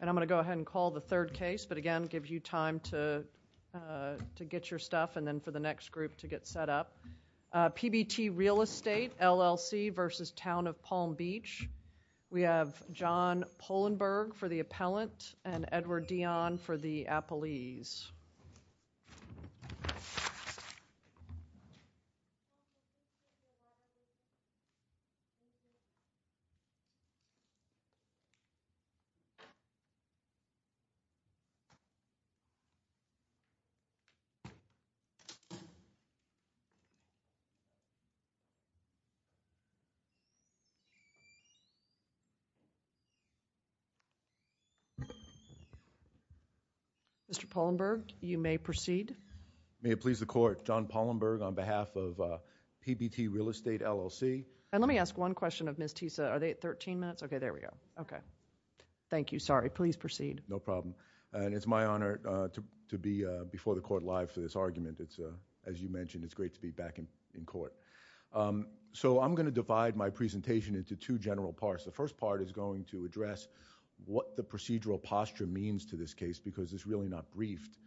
And I'm going to go ahead and call the third case, but again, give you time to to get your stuff and then for the next group to get set up. PBT Real Estate, LLC v. Town of Palm Beach. We have John Polenberg for the appellant and Edward Dion for the appellant. Mr. Polenberg, you may proceed. May it please the court, John Polenberg on behalf of PBT Real Estate, LLC. And let me ask one question of Ms. Tisa. Are they at 13 minutes? Okay, there we go. Okay. Thank you. Sorry. Please proceed. No problem. And it's my honor to be before the court live for this argument. It's a, as you mentioned, it's great to be back in court. So I'm going to divide my presentation into two general parts. The first part is going to address what the procedural posture means to this case because it's really not briefed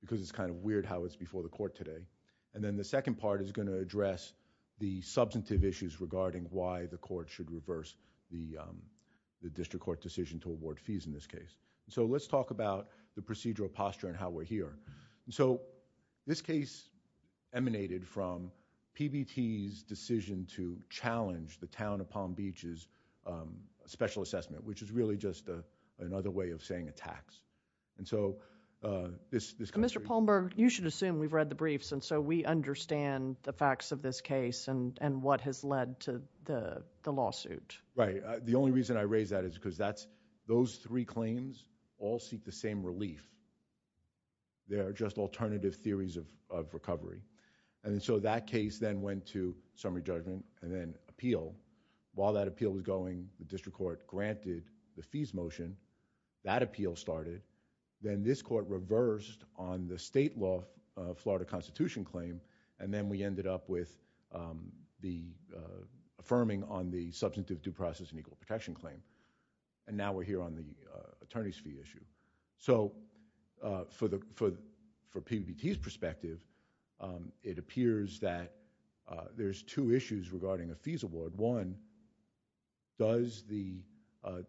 because it's kind of weird how it's before the court today. And then the second part is going to address the substantive issues regarding why the court should reverse the district court decision to award fees in this case. So let's talk about the procedural posture and how we're here. And so this case emanated from PBT's decision to challenge the Town of Palm Beach's special assessment, which is really just another way of saying a tax. And so this kind of thing. Mr. Polenberg, you should assume we've read the briefs and so we understand the facts of this case and what has led to the lawsuit. Right. The only reason I raise that is because that's those three claims all seek the same relief. They are just alternative theories of recovery. And so that case then went to summary judgment and then appeal. While that appeal was going, the district court granted the fees motion. That appeal started. Then this court reversed on the state law of Florida constitution claim. And then we ended up with the affirming on the substantive due process and equal protection claim. And now we're here on the attorney's fee issue. So for PBT's perspective, it appears that there's two issues regarding a fees award. One, does the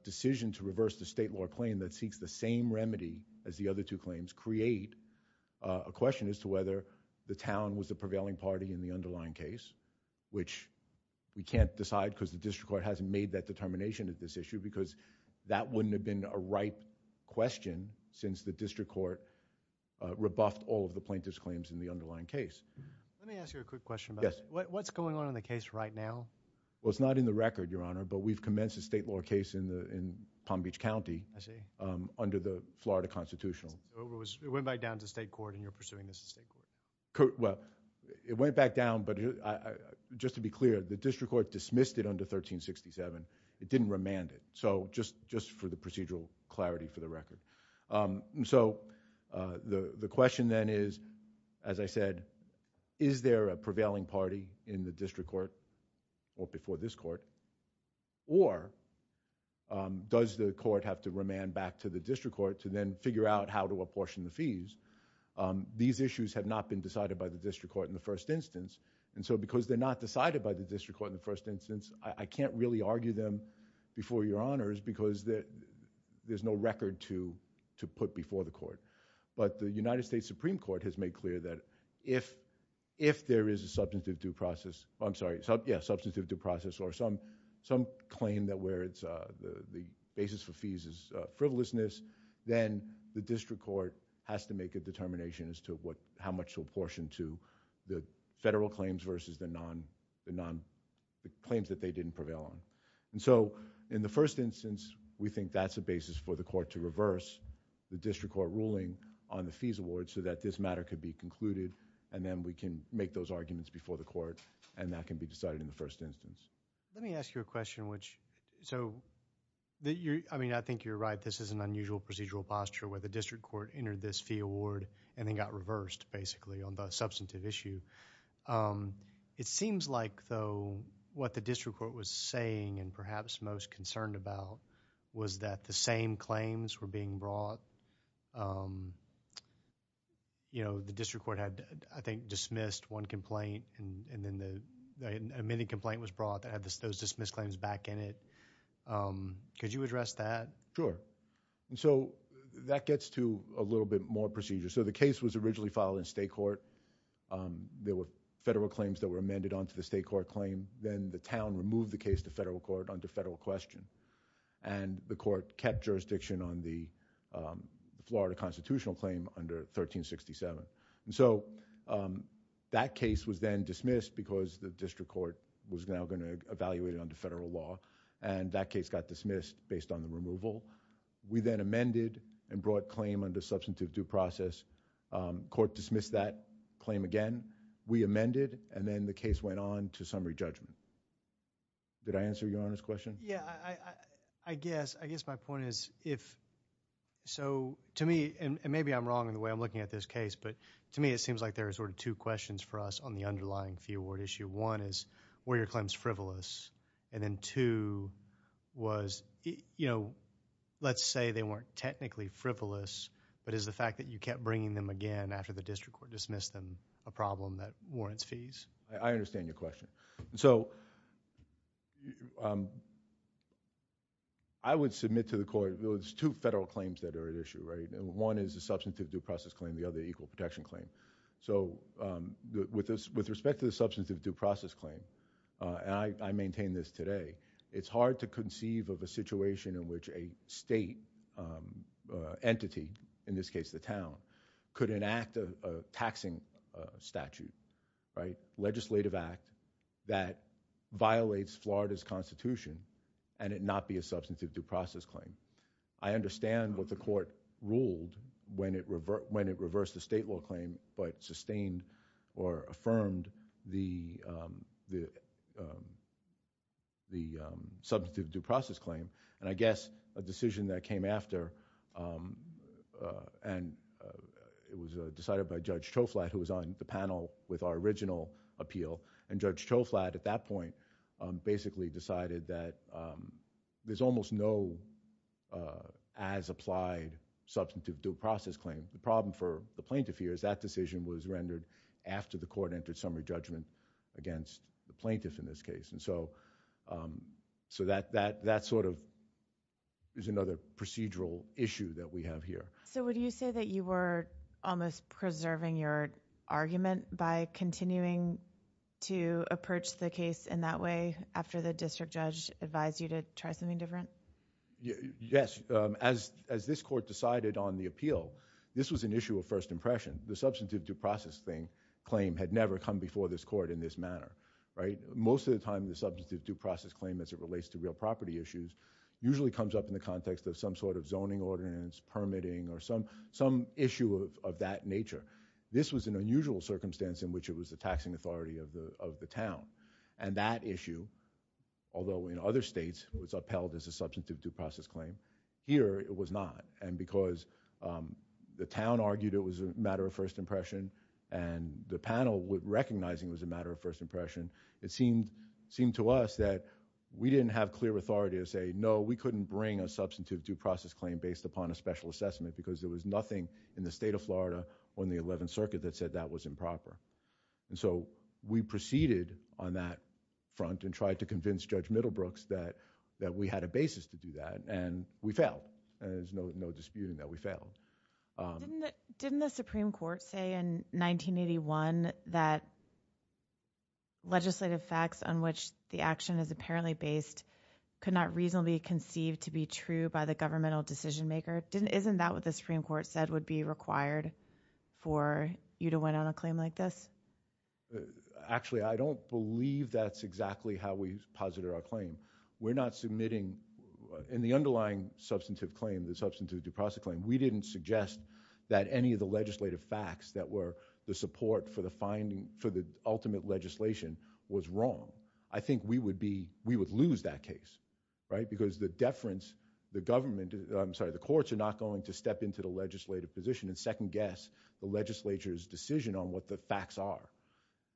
decision to reverse the state law claim that seeks the same remedy as the other two claims create a question as to whether the town was the prevailing party in the underlying case, which we can't decide because the district court hasn't made that determination at this issue because that wouldn't have been a right question since the district court rebuffed all of the plaintiff's claims in the underlying case. Let me ask you a quick question. Yes. What's going on in the case right now? Well, it's not in the record, Your Honor, but we've commenced a state law case in the, in Palm Beach County. I see. Under the Florida constitutional. It went back down to the state court and you're pursuing this at state court. Well, it went back down, but just to be clear, the district court dismissed it under 1367. It didn't remand it. So just for the procedural clarity for the record. So the question then is, as I said, is there a prevailing party in the district court or before this court, or does the court have to remand back to the district court to then figure out how to apportion the fees? These issues have not been decided by the district court in the first instance. And so because they're not decided by the district court in the first instance, I can't really argue them before your honors because there's no record to, to put before the court. But the United States Supreme court has made clear that if, if there is a substantive due process, I'm sorry. Yeah. Substantive due process or some, some claim that where it's a, the, the basis for fees is a frivolousness. Then the district court has to make a determination as to what, how much to apportion to the federal claims versus the non, the non claims that they didn't prevail on. And so in the first instance, we think that's a basis for the court to reverse the district court ruling on the fees award so that this matter could be concluded and then we can make those arguments before the court and that can be decided in the first instance. Let me ask you a question, which, so that you're, I mean, I think you're right. This is an unusual procedural posture where the district court entered this fee award and then got reversed basically on the substantive issue. Um, it seems like though what the district court was saying and perhaps most concerned about was that the same claims were the district court had, I think, dismissed one complaint and then the amending complaint was brought that had those dismissed claims back in it. Um, could you address that? Sure. And so that gets to a little bit more procedure. So the case was originally filed in state court. Um, there were federal claims that were amended onto the state court claim. Then the town removed the case to federal court under federal question and the court kept jurisdiction on the, um, Florida constitutional claim under 1367. And so, um, that case was then dismissed because the district court was now going to evaluate it under federal law. And that case got dismissed based on the removal. We then amended and brought claim under substantive due process. Um, court dismissed that claim again. We amended and then the case went on to summary judgment. Did I answer your question? Yeah, I, I, I guess, I guess my point is if, so to me, and maybe I'm wrong in the way I'm looking at this case, but to me it seems like there are sort of two questions for us on the underlying fee award issue. One is were your claims frivolous? And then two was, you know, let's say they weren't technically frivolous, but is the fact that you kept bringing them again after the district court dismissed them a problem that warrants fees? I understand your question. So, um, I would submit to the court those two federal claims that are at issue, right? And one is the substantive due process claim, the other equal protection claim. So, um, with this, with respect to the substantive due process claim, uh, and I, I maintain this today, it's hard to conceive of a situation in which a state, um, uh, entity, in this case, the town could enact a, a taxing statute, right? A legislative act that violates Florida's constitution and it not be a substantive due process claim. I understand what the court ruled when it revert, when it reversed the state law claim, but sustained or affirmed the, um, the, um, the, um, substantive due process claim. And I guess a decision that came after, um, uh, and, uh, it was, uh, decided by Judge Troflatt who was on the panel with our original appeal and Judge Troflatt at that point, um, basically decided that, um, there's almost no, uh, as applied substantive due process claim. The problem for the plaintiff here is that decision was rendered after the court entered summary judgment against the plaintiff in this case. And so, um, so that, that, that sort of is another procedural issue that we have here. So would you say that you were almost preserving your argument by continuing to approach the case in that way after the district judge advised you to try something different? Yes. Um, as, as this court decided on the appeal, this was an issue of first impression. The substantive due process thing, claim had never come before this court in this manner, right? Most of the time the substantive due process claim as it relates to real property issues usually comes up in the context of some sort of zoning ordinance, permitting, or some, some issue of, of that nature. This was an unusual circumstance in which it was the taxing authority of the, of the town. And that issue, although in other states it was upheld as a substantive due process claim, here it was not. And because, um, the town argued it was a matter of first impression and the panel would, recognizing it was a matter of first impression, it seemed, seemed to us that we didn't have clear authority to say, no, we didn't have a due process claim based upon a special assessment because there was nothing in the state of Florida on the 11th Circuit that said that was improper. And so we proceeded on that front and tried to convince Judge Middlebrooks that, that we had a basis to do that and we failed. There's no, no disputing that we failed. Um. Didn't the, didn't the Supreme Court say in 1981 that legislative facts on which the action is apparently based could not reasonably be conceived to be true by the governmental decision-maker? Didn't, isn't that what the Supreme Court said would be required for you to win on a claim like this? Actually, I don't believe that's exactly how we posited our claim. We're not submitting, in the underlying substantive claim, the substantive due process claim, we didn't suggest that any of the legislative facts that were the support for the finding, for the ultimate legislation was wrong. I think we would be, we would lose that case, right? Because the deference, the government, I'm sorry, the courts are not going to step into the legislative position and second-guess the legislature's decision on what the facts are.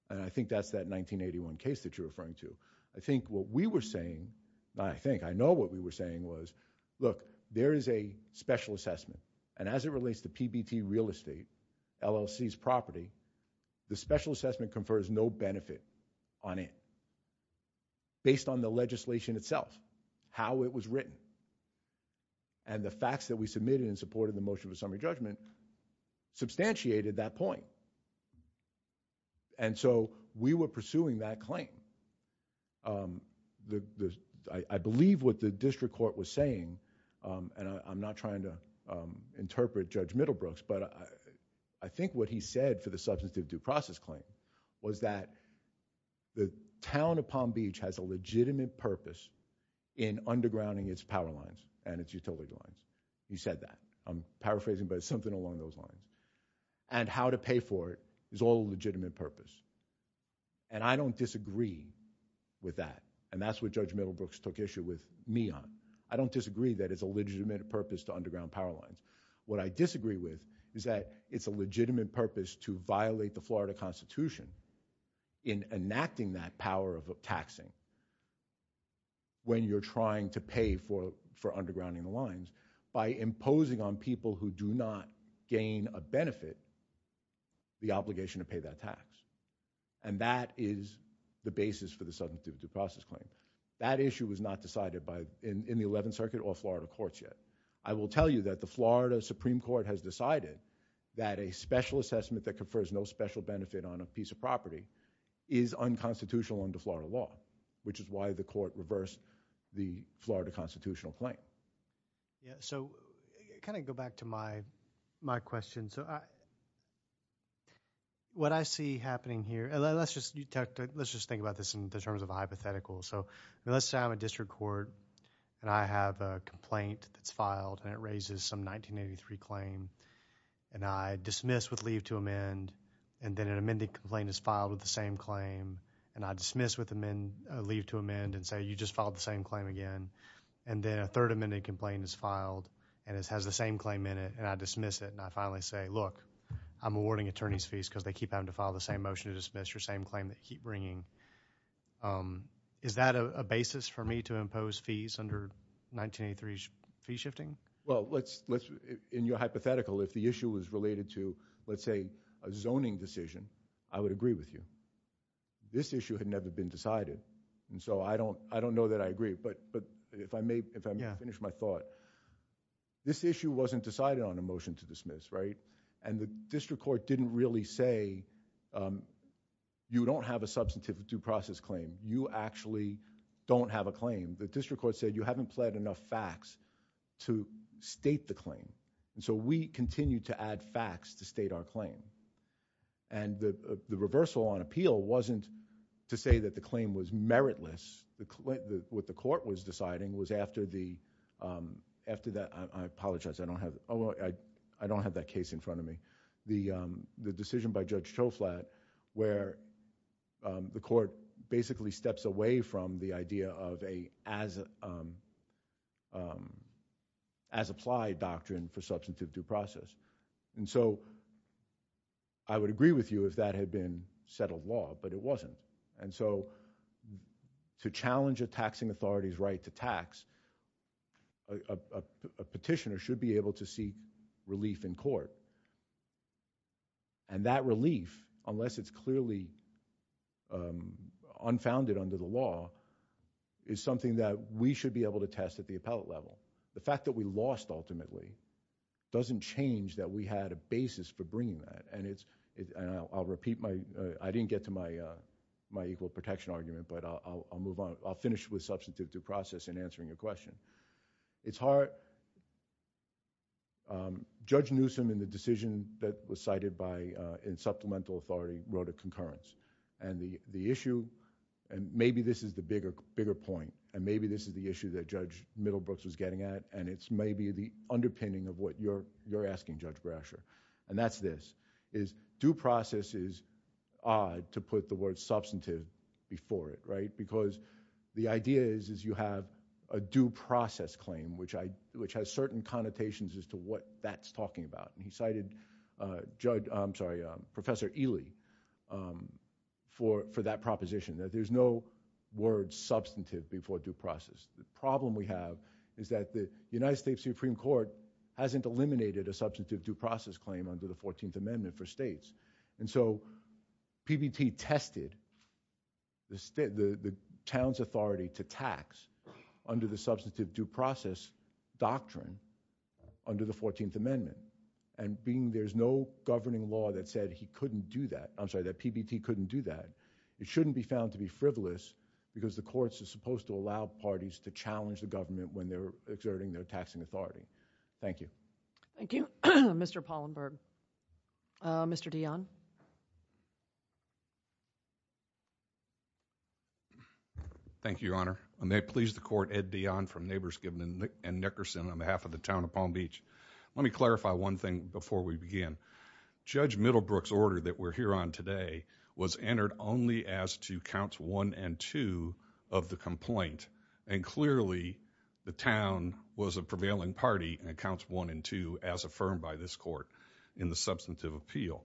And I think that's that 1981 case that you're referring to. I think what we were saying, I think, I know what we were saying was, look, there is a special assessment and as it relates to PBT real estate, LLC's property, the special assessment confers no benefit on it, based on the legislation itself, how it was written. And the facts that we submitted in support of the motion of a summary judgment substantiated that point. And so, we were pursuing that claim. I believe what the district court was saying, and I'm not trying to interpret Judge Middlebrooks, but I think what he said for the substantive due process claim was that the town of Palm Beach has a legitimate purpose in undergrounding its power lines and its utility lines. He said that. I'm paraphrasing, but it's something along those lines. And how to pay for it is all legitimate purpose. And I don't disagree with that. And that's what Judge Middlebrooks took issue with me on. I don't disagree that it's a legitimate purpose to underground power lines. What I disagree with is that it's a legitimate purpose to violate the Florida Constitution in enacting that power of taxing when you're trying to pay for undergrounding the lines by imposing on people who do not gain a benefit the obligation to pay that tax. And that is the basis for the substantive due process claim. That issue was not decided in the 11th Circuit or Florida courts yet. I will tell you that the Florida Supreme Court has decided that a special assessment that confers no special benefit on a piece of property is unconstitutional under Florida law, which is why the court reversed the Florida constitutional claim. Yeah, so kind of go back to my question. So what I see happening here, and let's just think about this in terms of I have a complaint that's filed, and it raises some 1983 claim, and I dismiss with leave to amend, and then an amended complaint is filed with the same claim, and I dismiss with leave to amend and say, you just filed the same claim again. And then a third amended complaint is filed, and it has the same claim in it, and I dismiss it, and I finally say, look, I'm awarding attorneys fees because they keep having to file the same motion to dismiss your same claim that you keep 1983 fee shifting? Well, in your hypothetical, if the issue was related to, let's say, a zoning decision, I would agree with you. This issue had never been decided, and so I don't know that I agree, but if I may finish my thought, this issue wasn't decided on a motion to dismiss, right? And the district court didn't really say, you don't have a substantive due process claim. You actually don't have a claim. The district court said, you haven't pled enough facts to state the claim, and so we continue to add facts to state our claim. And the reversal on appeal wasn't to say that the claim was meritless. What the court was deciding was after the, I apologize, I don't have that case in front of me. The decision by Judge Toflat where the court basically steps away from the idea of a as applied doctrine for substantive due process. And so I would agree with you if that had been settled law, but it wasn't. And so to challenge a taxing authority's right to tax, a petitioner should be able to seek relief in court. And that relief, unless it's clearly unfounded under the law, is something that we should be able to test at the appellate level. The fact that we lost ultimately doesn't change that we had a basis for bringing that. And I'll repeat my, I didn't get to my equal protection argument, but I'll move on. I'll finish with substantive due process in answering your question. It's hard, Judge Newsom in the decision that was cited by Supplemental Authority wrote a concurrence. And the issue, and maybe this is the bigger point, and maybe this is the issue that Judge Middlebrooks was getting at, and it's maybe the underpinning of what you're asking, Judge Brasher. And that's this, is due process is odd to put the word substantive before it, right? Because the idea is you have a due process claim, which has certain connotations as to what that's talking about. And he cited Professor Ely for that proposition, that there's no word substantive before due process. The problem we have is that the United States Supreme Court hasn't eliminated a substantive due process claim under the 14th Amendment for states. And so PBT tested the town's authority to tax under the substantive due process doctrine under the 14th Amendment. And being there's no governing law that said he couldn't do that, I'm sorry, that PBT couldn't do that. It shouldn't be found to be frivolous because the courts are supposed to allow parties to challenge the government when they're exerting their taxing authority. Thank you. Thank you, Mr. Pollenberg. Mr. Dionne. Thank you, Your Honor. I may please the court, Ed Dionne from Neighbors Gibbon and Nickerson on behalf of the town of Palm Beach. Let me clarify one thing before we begin. Judge Middlebrooks order that we're here on today was entered only as to counts one and two of the complaint. And clearly the town was a prevailing party in accounts one and two as affirmed by this court in the substantive appeal.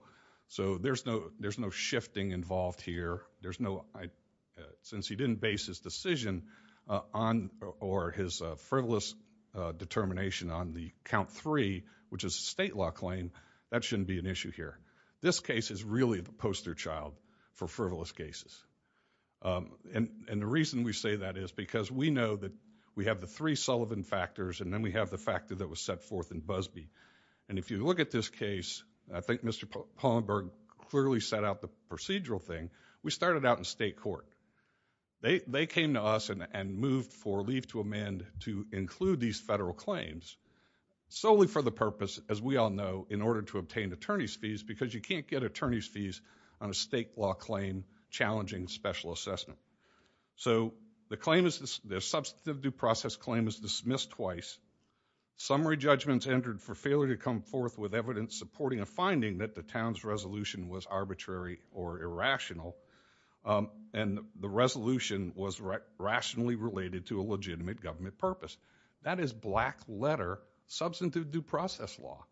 So there's no shifting involved here. There's no, since he didn't base his decision on or his frivolous determination on the count three, which is a state law claim, that shouldn't be an issue here. This case is really the poster child for frivolous cases. And the reason we say that is because we know that we have the three Sullivan factors and then we have the factor that was set forth in Busbee. And if you look at this case, I think Mr. Pollenberg clearly set out the procedural thing. We started out in state court. They came to us and moved for leave to amend to include these federal claims solely for the purpose, as we all know, in order to obtain attorney's fees, because you can't get attorney's fees on a state law claim challenging special assessment. So the claim is the substantive due process claim is dismissed twice. Summary judgments entered for failure to come forth with evidence supporting a finding that the town's resolution was arbitrary or irrational. And the resolution was rationally related to a legitimate government purpose. That is black letter substantive due process law.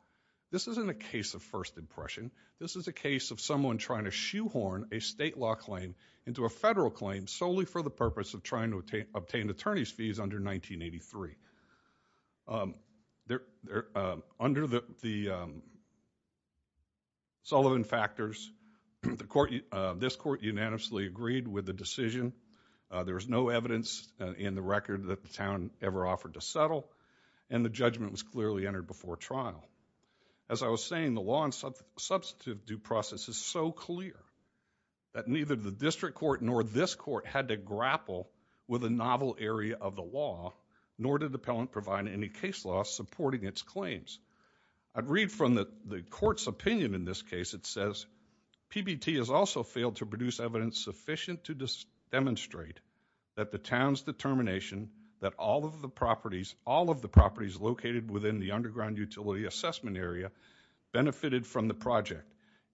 This isn't a case of first impression. This is a case of someone trying to shoehorn a state law claim into a federal claim solely for the purpose of trying to obtain attorney's fees under 1983. Under the Sullivan factors, this court unanimously agreed with the decision. There was no evidence in the record that the town ever offered to settle, and the judgment was clearly entered before trial. As I was saying, the law and substantive due process is so clear that neither the district court nor this court had to grapple with a novel area of the law, nor did the appellant provide any case law supporting its claims. I'd read from the court's opinion in this case. It says, PBT has also failed to produce evidence sufficient to demonstrate that the town's determination that all of the properties, all of the properties located within the underground utility assessment area benefited from the project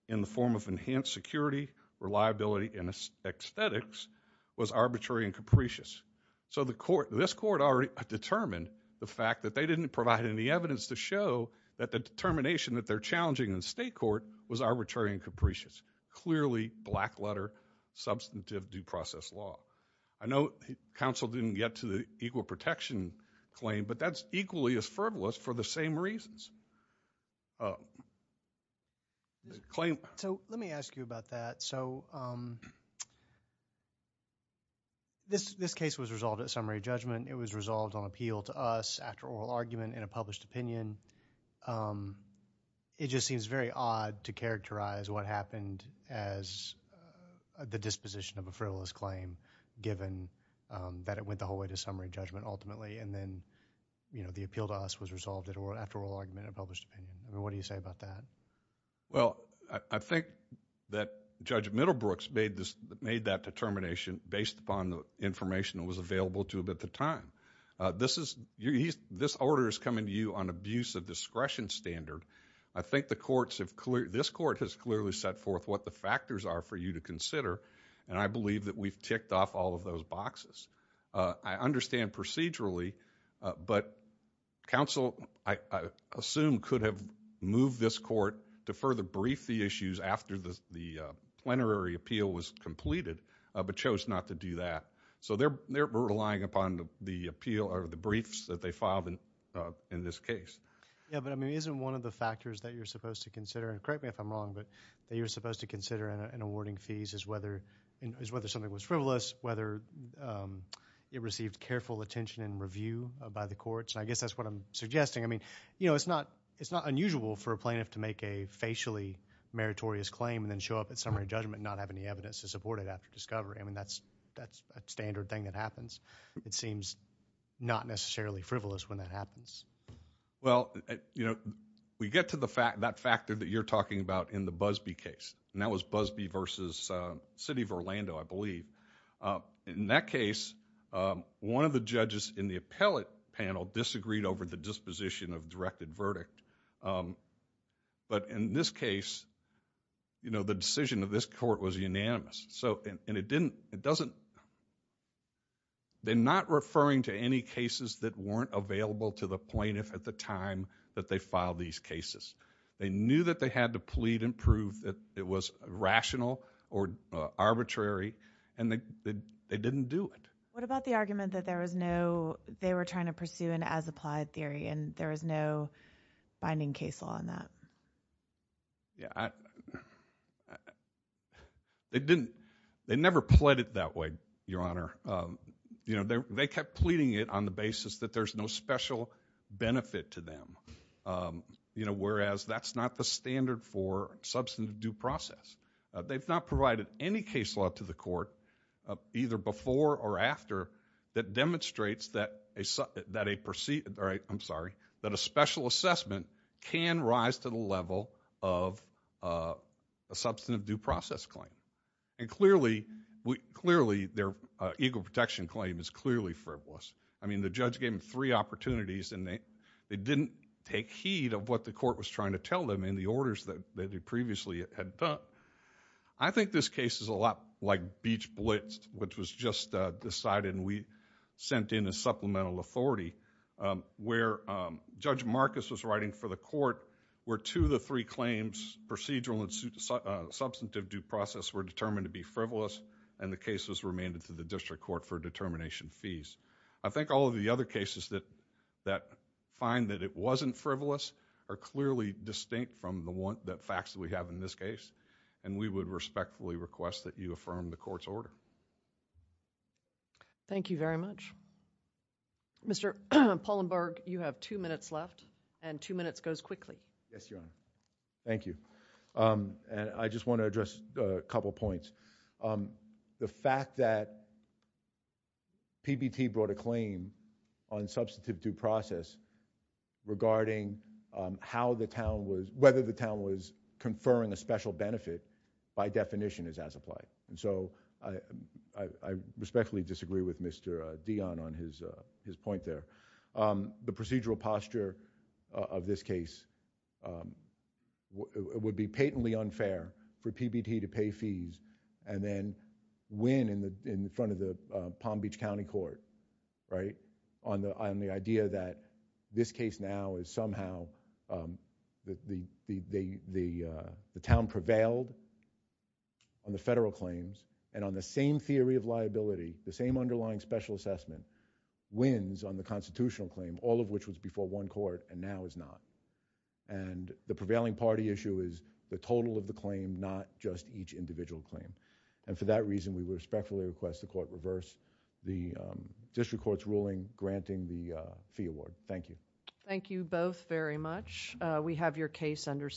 in the form of enhanced security, reliability, and aesthetics was arbitrary and capricious. So this court already determined the fact that they didn't provide any evidence to show that the determination that they're challenging in state court was arbitrary and capricious. Clearly, black letter, substantive due process law. I know counsel didn't get to the equal protection claim, but that's equally as frivolous for the same reasons. The claim- So let me ask you about that. So this case was resolved at summary judgment. It was resolved on appeal to us after oral argument and a published opinion. It just seems very odd to characterize what happened as the disposition of a frivolous claim, given that it went the whole way to summary judgment ultimately. And then, you know, the appeal to us was resolved after oral argument and a published opinion. What do you say about that? Well, I think that Judge Middlebrooks made that determination based upon the information that was available to him at the time. This order is coming to you on abuse of discretion standard. I think this court has clearly set forth what the factors are for you to consider, and I believe that we've ticked off all of those boxes. I understand procedurally, but counsel, I assume, could have moved this court to further brief the issues after the plenary appeal was completed, but chose not to do that. So they're relying upon the briefs that they filed in this case. Yeah, but I mean, isn't one of the factors that you're supposed to consider, and correct me if I'm wrong, but that you're supposed to consider in awarding fees is whether something was frivolous, whether it received careful attention and review by the courts. I guess that's what I'm suggesting. I mean, you know, it's not unusual for a plaintiff to make a facially meritorious claim and then show up at summary judgment and not have any evidence to support it after discovery. I mean, that's a standard thing that happens. It seems not necessarily frivolous when that happens. Well, you know, we get to that factor that you're talking about in the Busbee case, and that was Busbee versus City of Orlando, I believe. In that case, one of the judges in the appellate panel disagreed over the disposition of directed verdict. But in this case, you know, the decision of this court was unanimous. So, and it didn't, it doesn't, they're not referring to any cases that weren't available to the plaintiff at the time that they filed these cases. They knew that they had to plead and prove that it was rational or arbitrary, and they didn't do it. What about the argument that there was no, they were trying to pursue an as-applied theory, and there was no binding case law on that? Yeah, I, they didn't, they never pled it that way, Your Honor. You know, they kept pleading it on the basis that there's no special benefit to them. You know, whereas that's not the standard for substantive due process. They've not provided any case law to the court, either before or after, that demonstrates that a, that a, I'm sorry, that a special assessment can rise to the level of a substantive due process claim. And clearly, clearly, their equal protection claim is clearly frivolous. I mean, the judge gave them three opportunities, and they didn't take heed of what the court was trying to tell them in the orders that they previously had done. I think this case is a lot like Beach Blitz, which was just decided and we sent in a supplemental authority, where Judge Marcus was writing for the court, where two of the three claims, procedural and substantive due process, were determined to be frivolous, and the case was remained to the district court for determination fees. I think all of the other cases that, that find that it wasn't frivolous are clearly distinct from the one, the facts that we have in this case. And we would respectfully request that you affirm the court's order. Thank you very much. Mr. Pollenberg, you have two minutes left, and two minutes goes quickly. Yes, Your Honor. Thank you. And I just want to address a couple points. The fact that PBT brought a claim on substantive due process regarding how the town was, whether the town was conferring a special benefit by definition is as applied. And so I respectfully disagree with Mr. Dion on his point there. The procedural posture of this case would be patently unfair for PBT to pay fees and then win in the front of the Palm Beach County Court, right? On the idea that this case now is somehow the town prevailed on the federal claims. And on the same theory of liability, the same underlying special assessment, wins on the constitutional claim, all of which was before one court and now is not. And the prevailing party issue is the total of the claim, not just each individual claim. And for that reason, we respectfully request the court reverse the district court's ruling, granting the fee award. Thank you. Thank you both very much. We have your case under.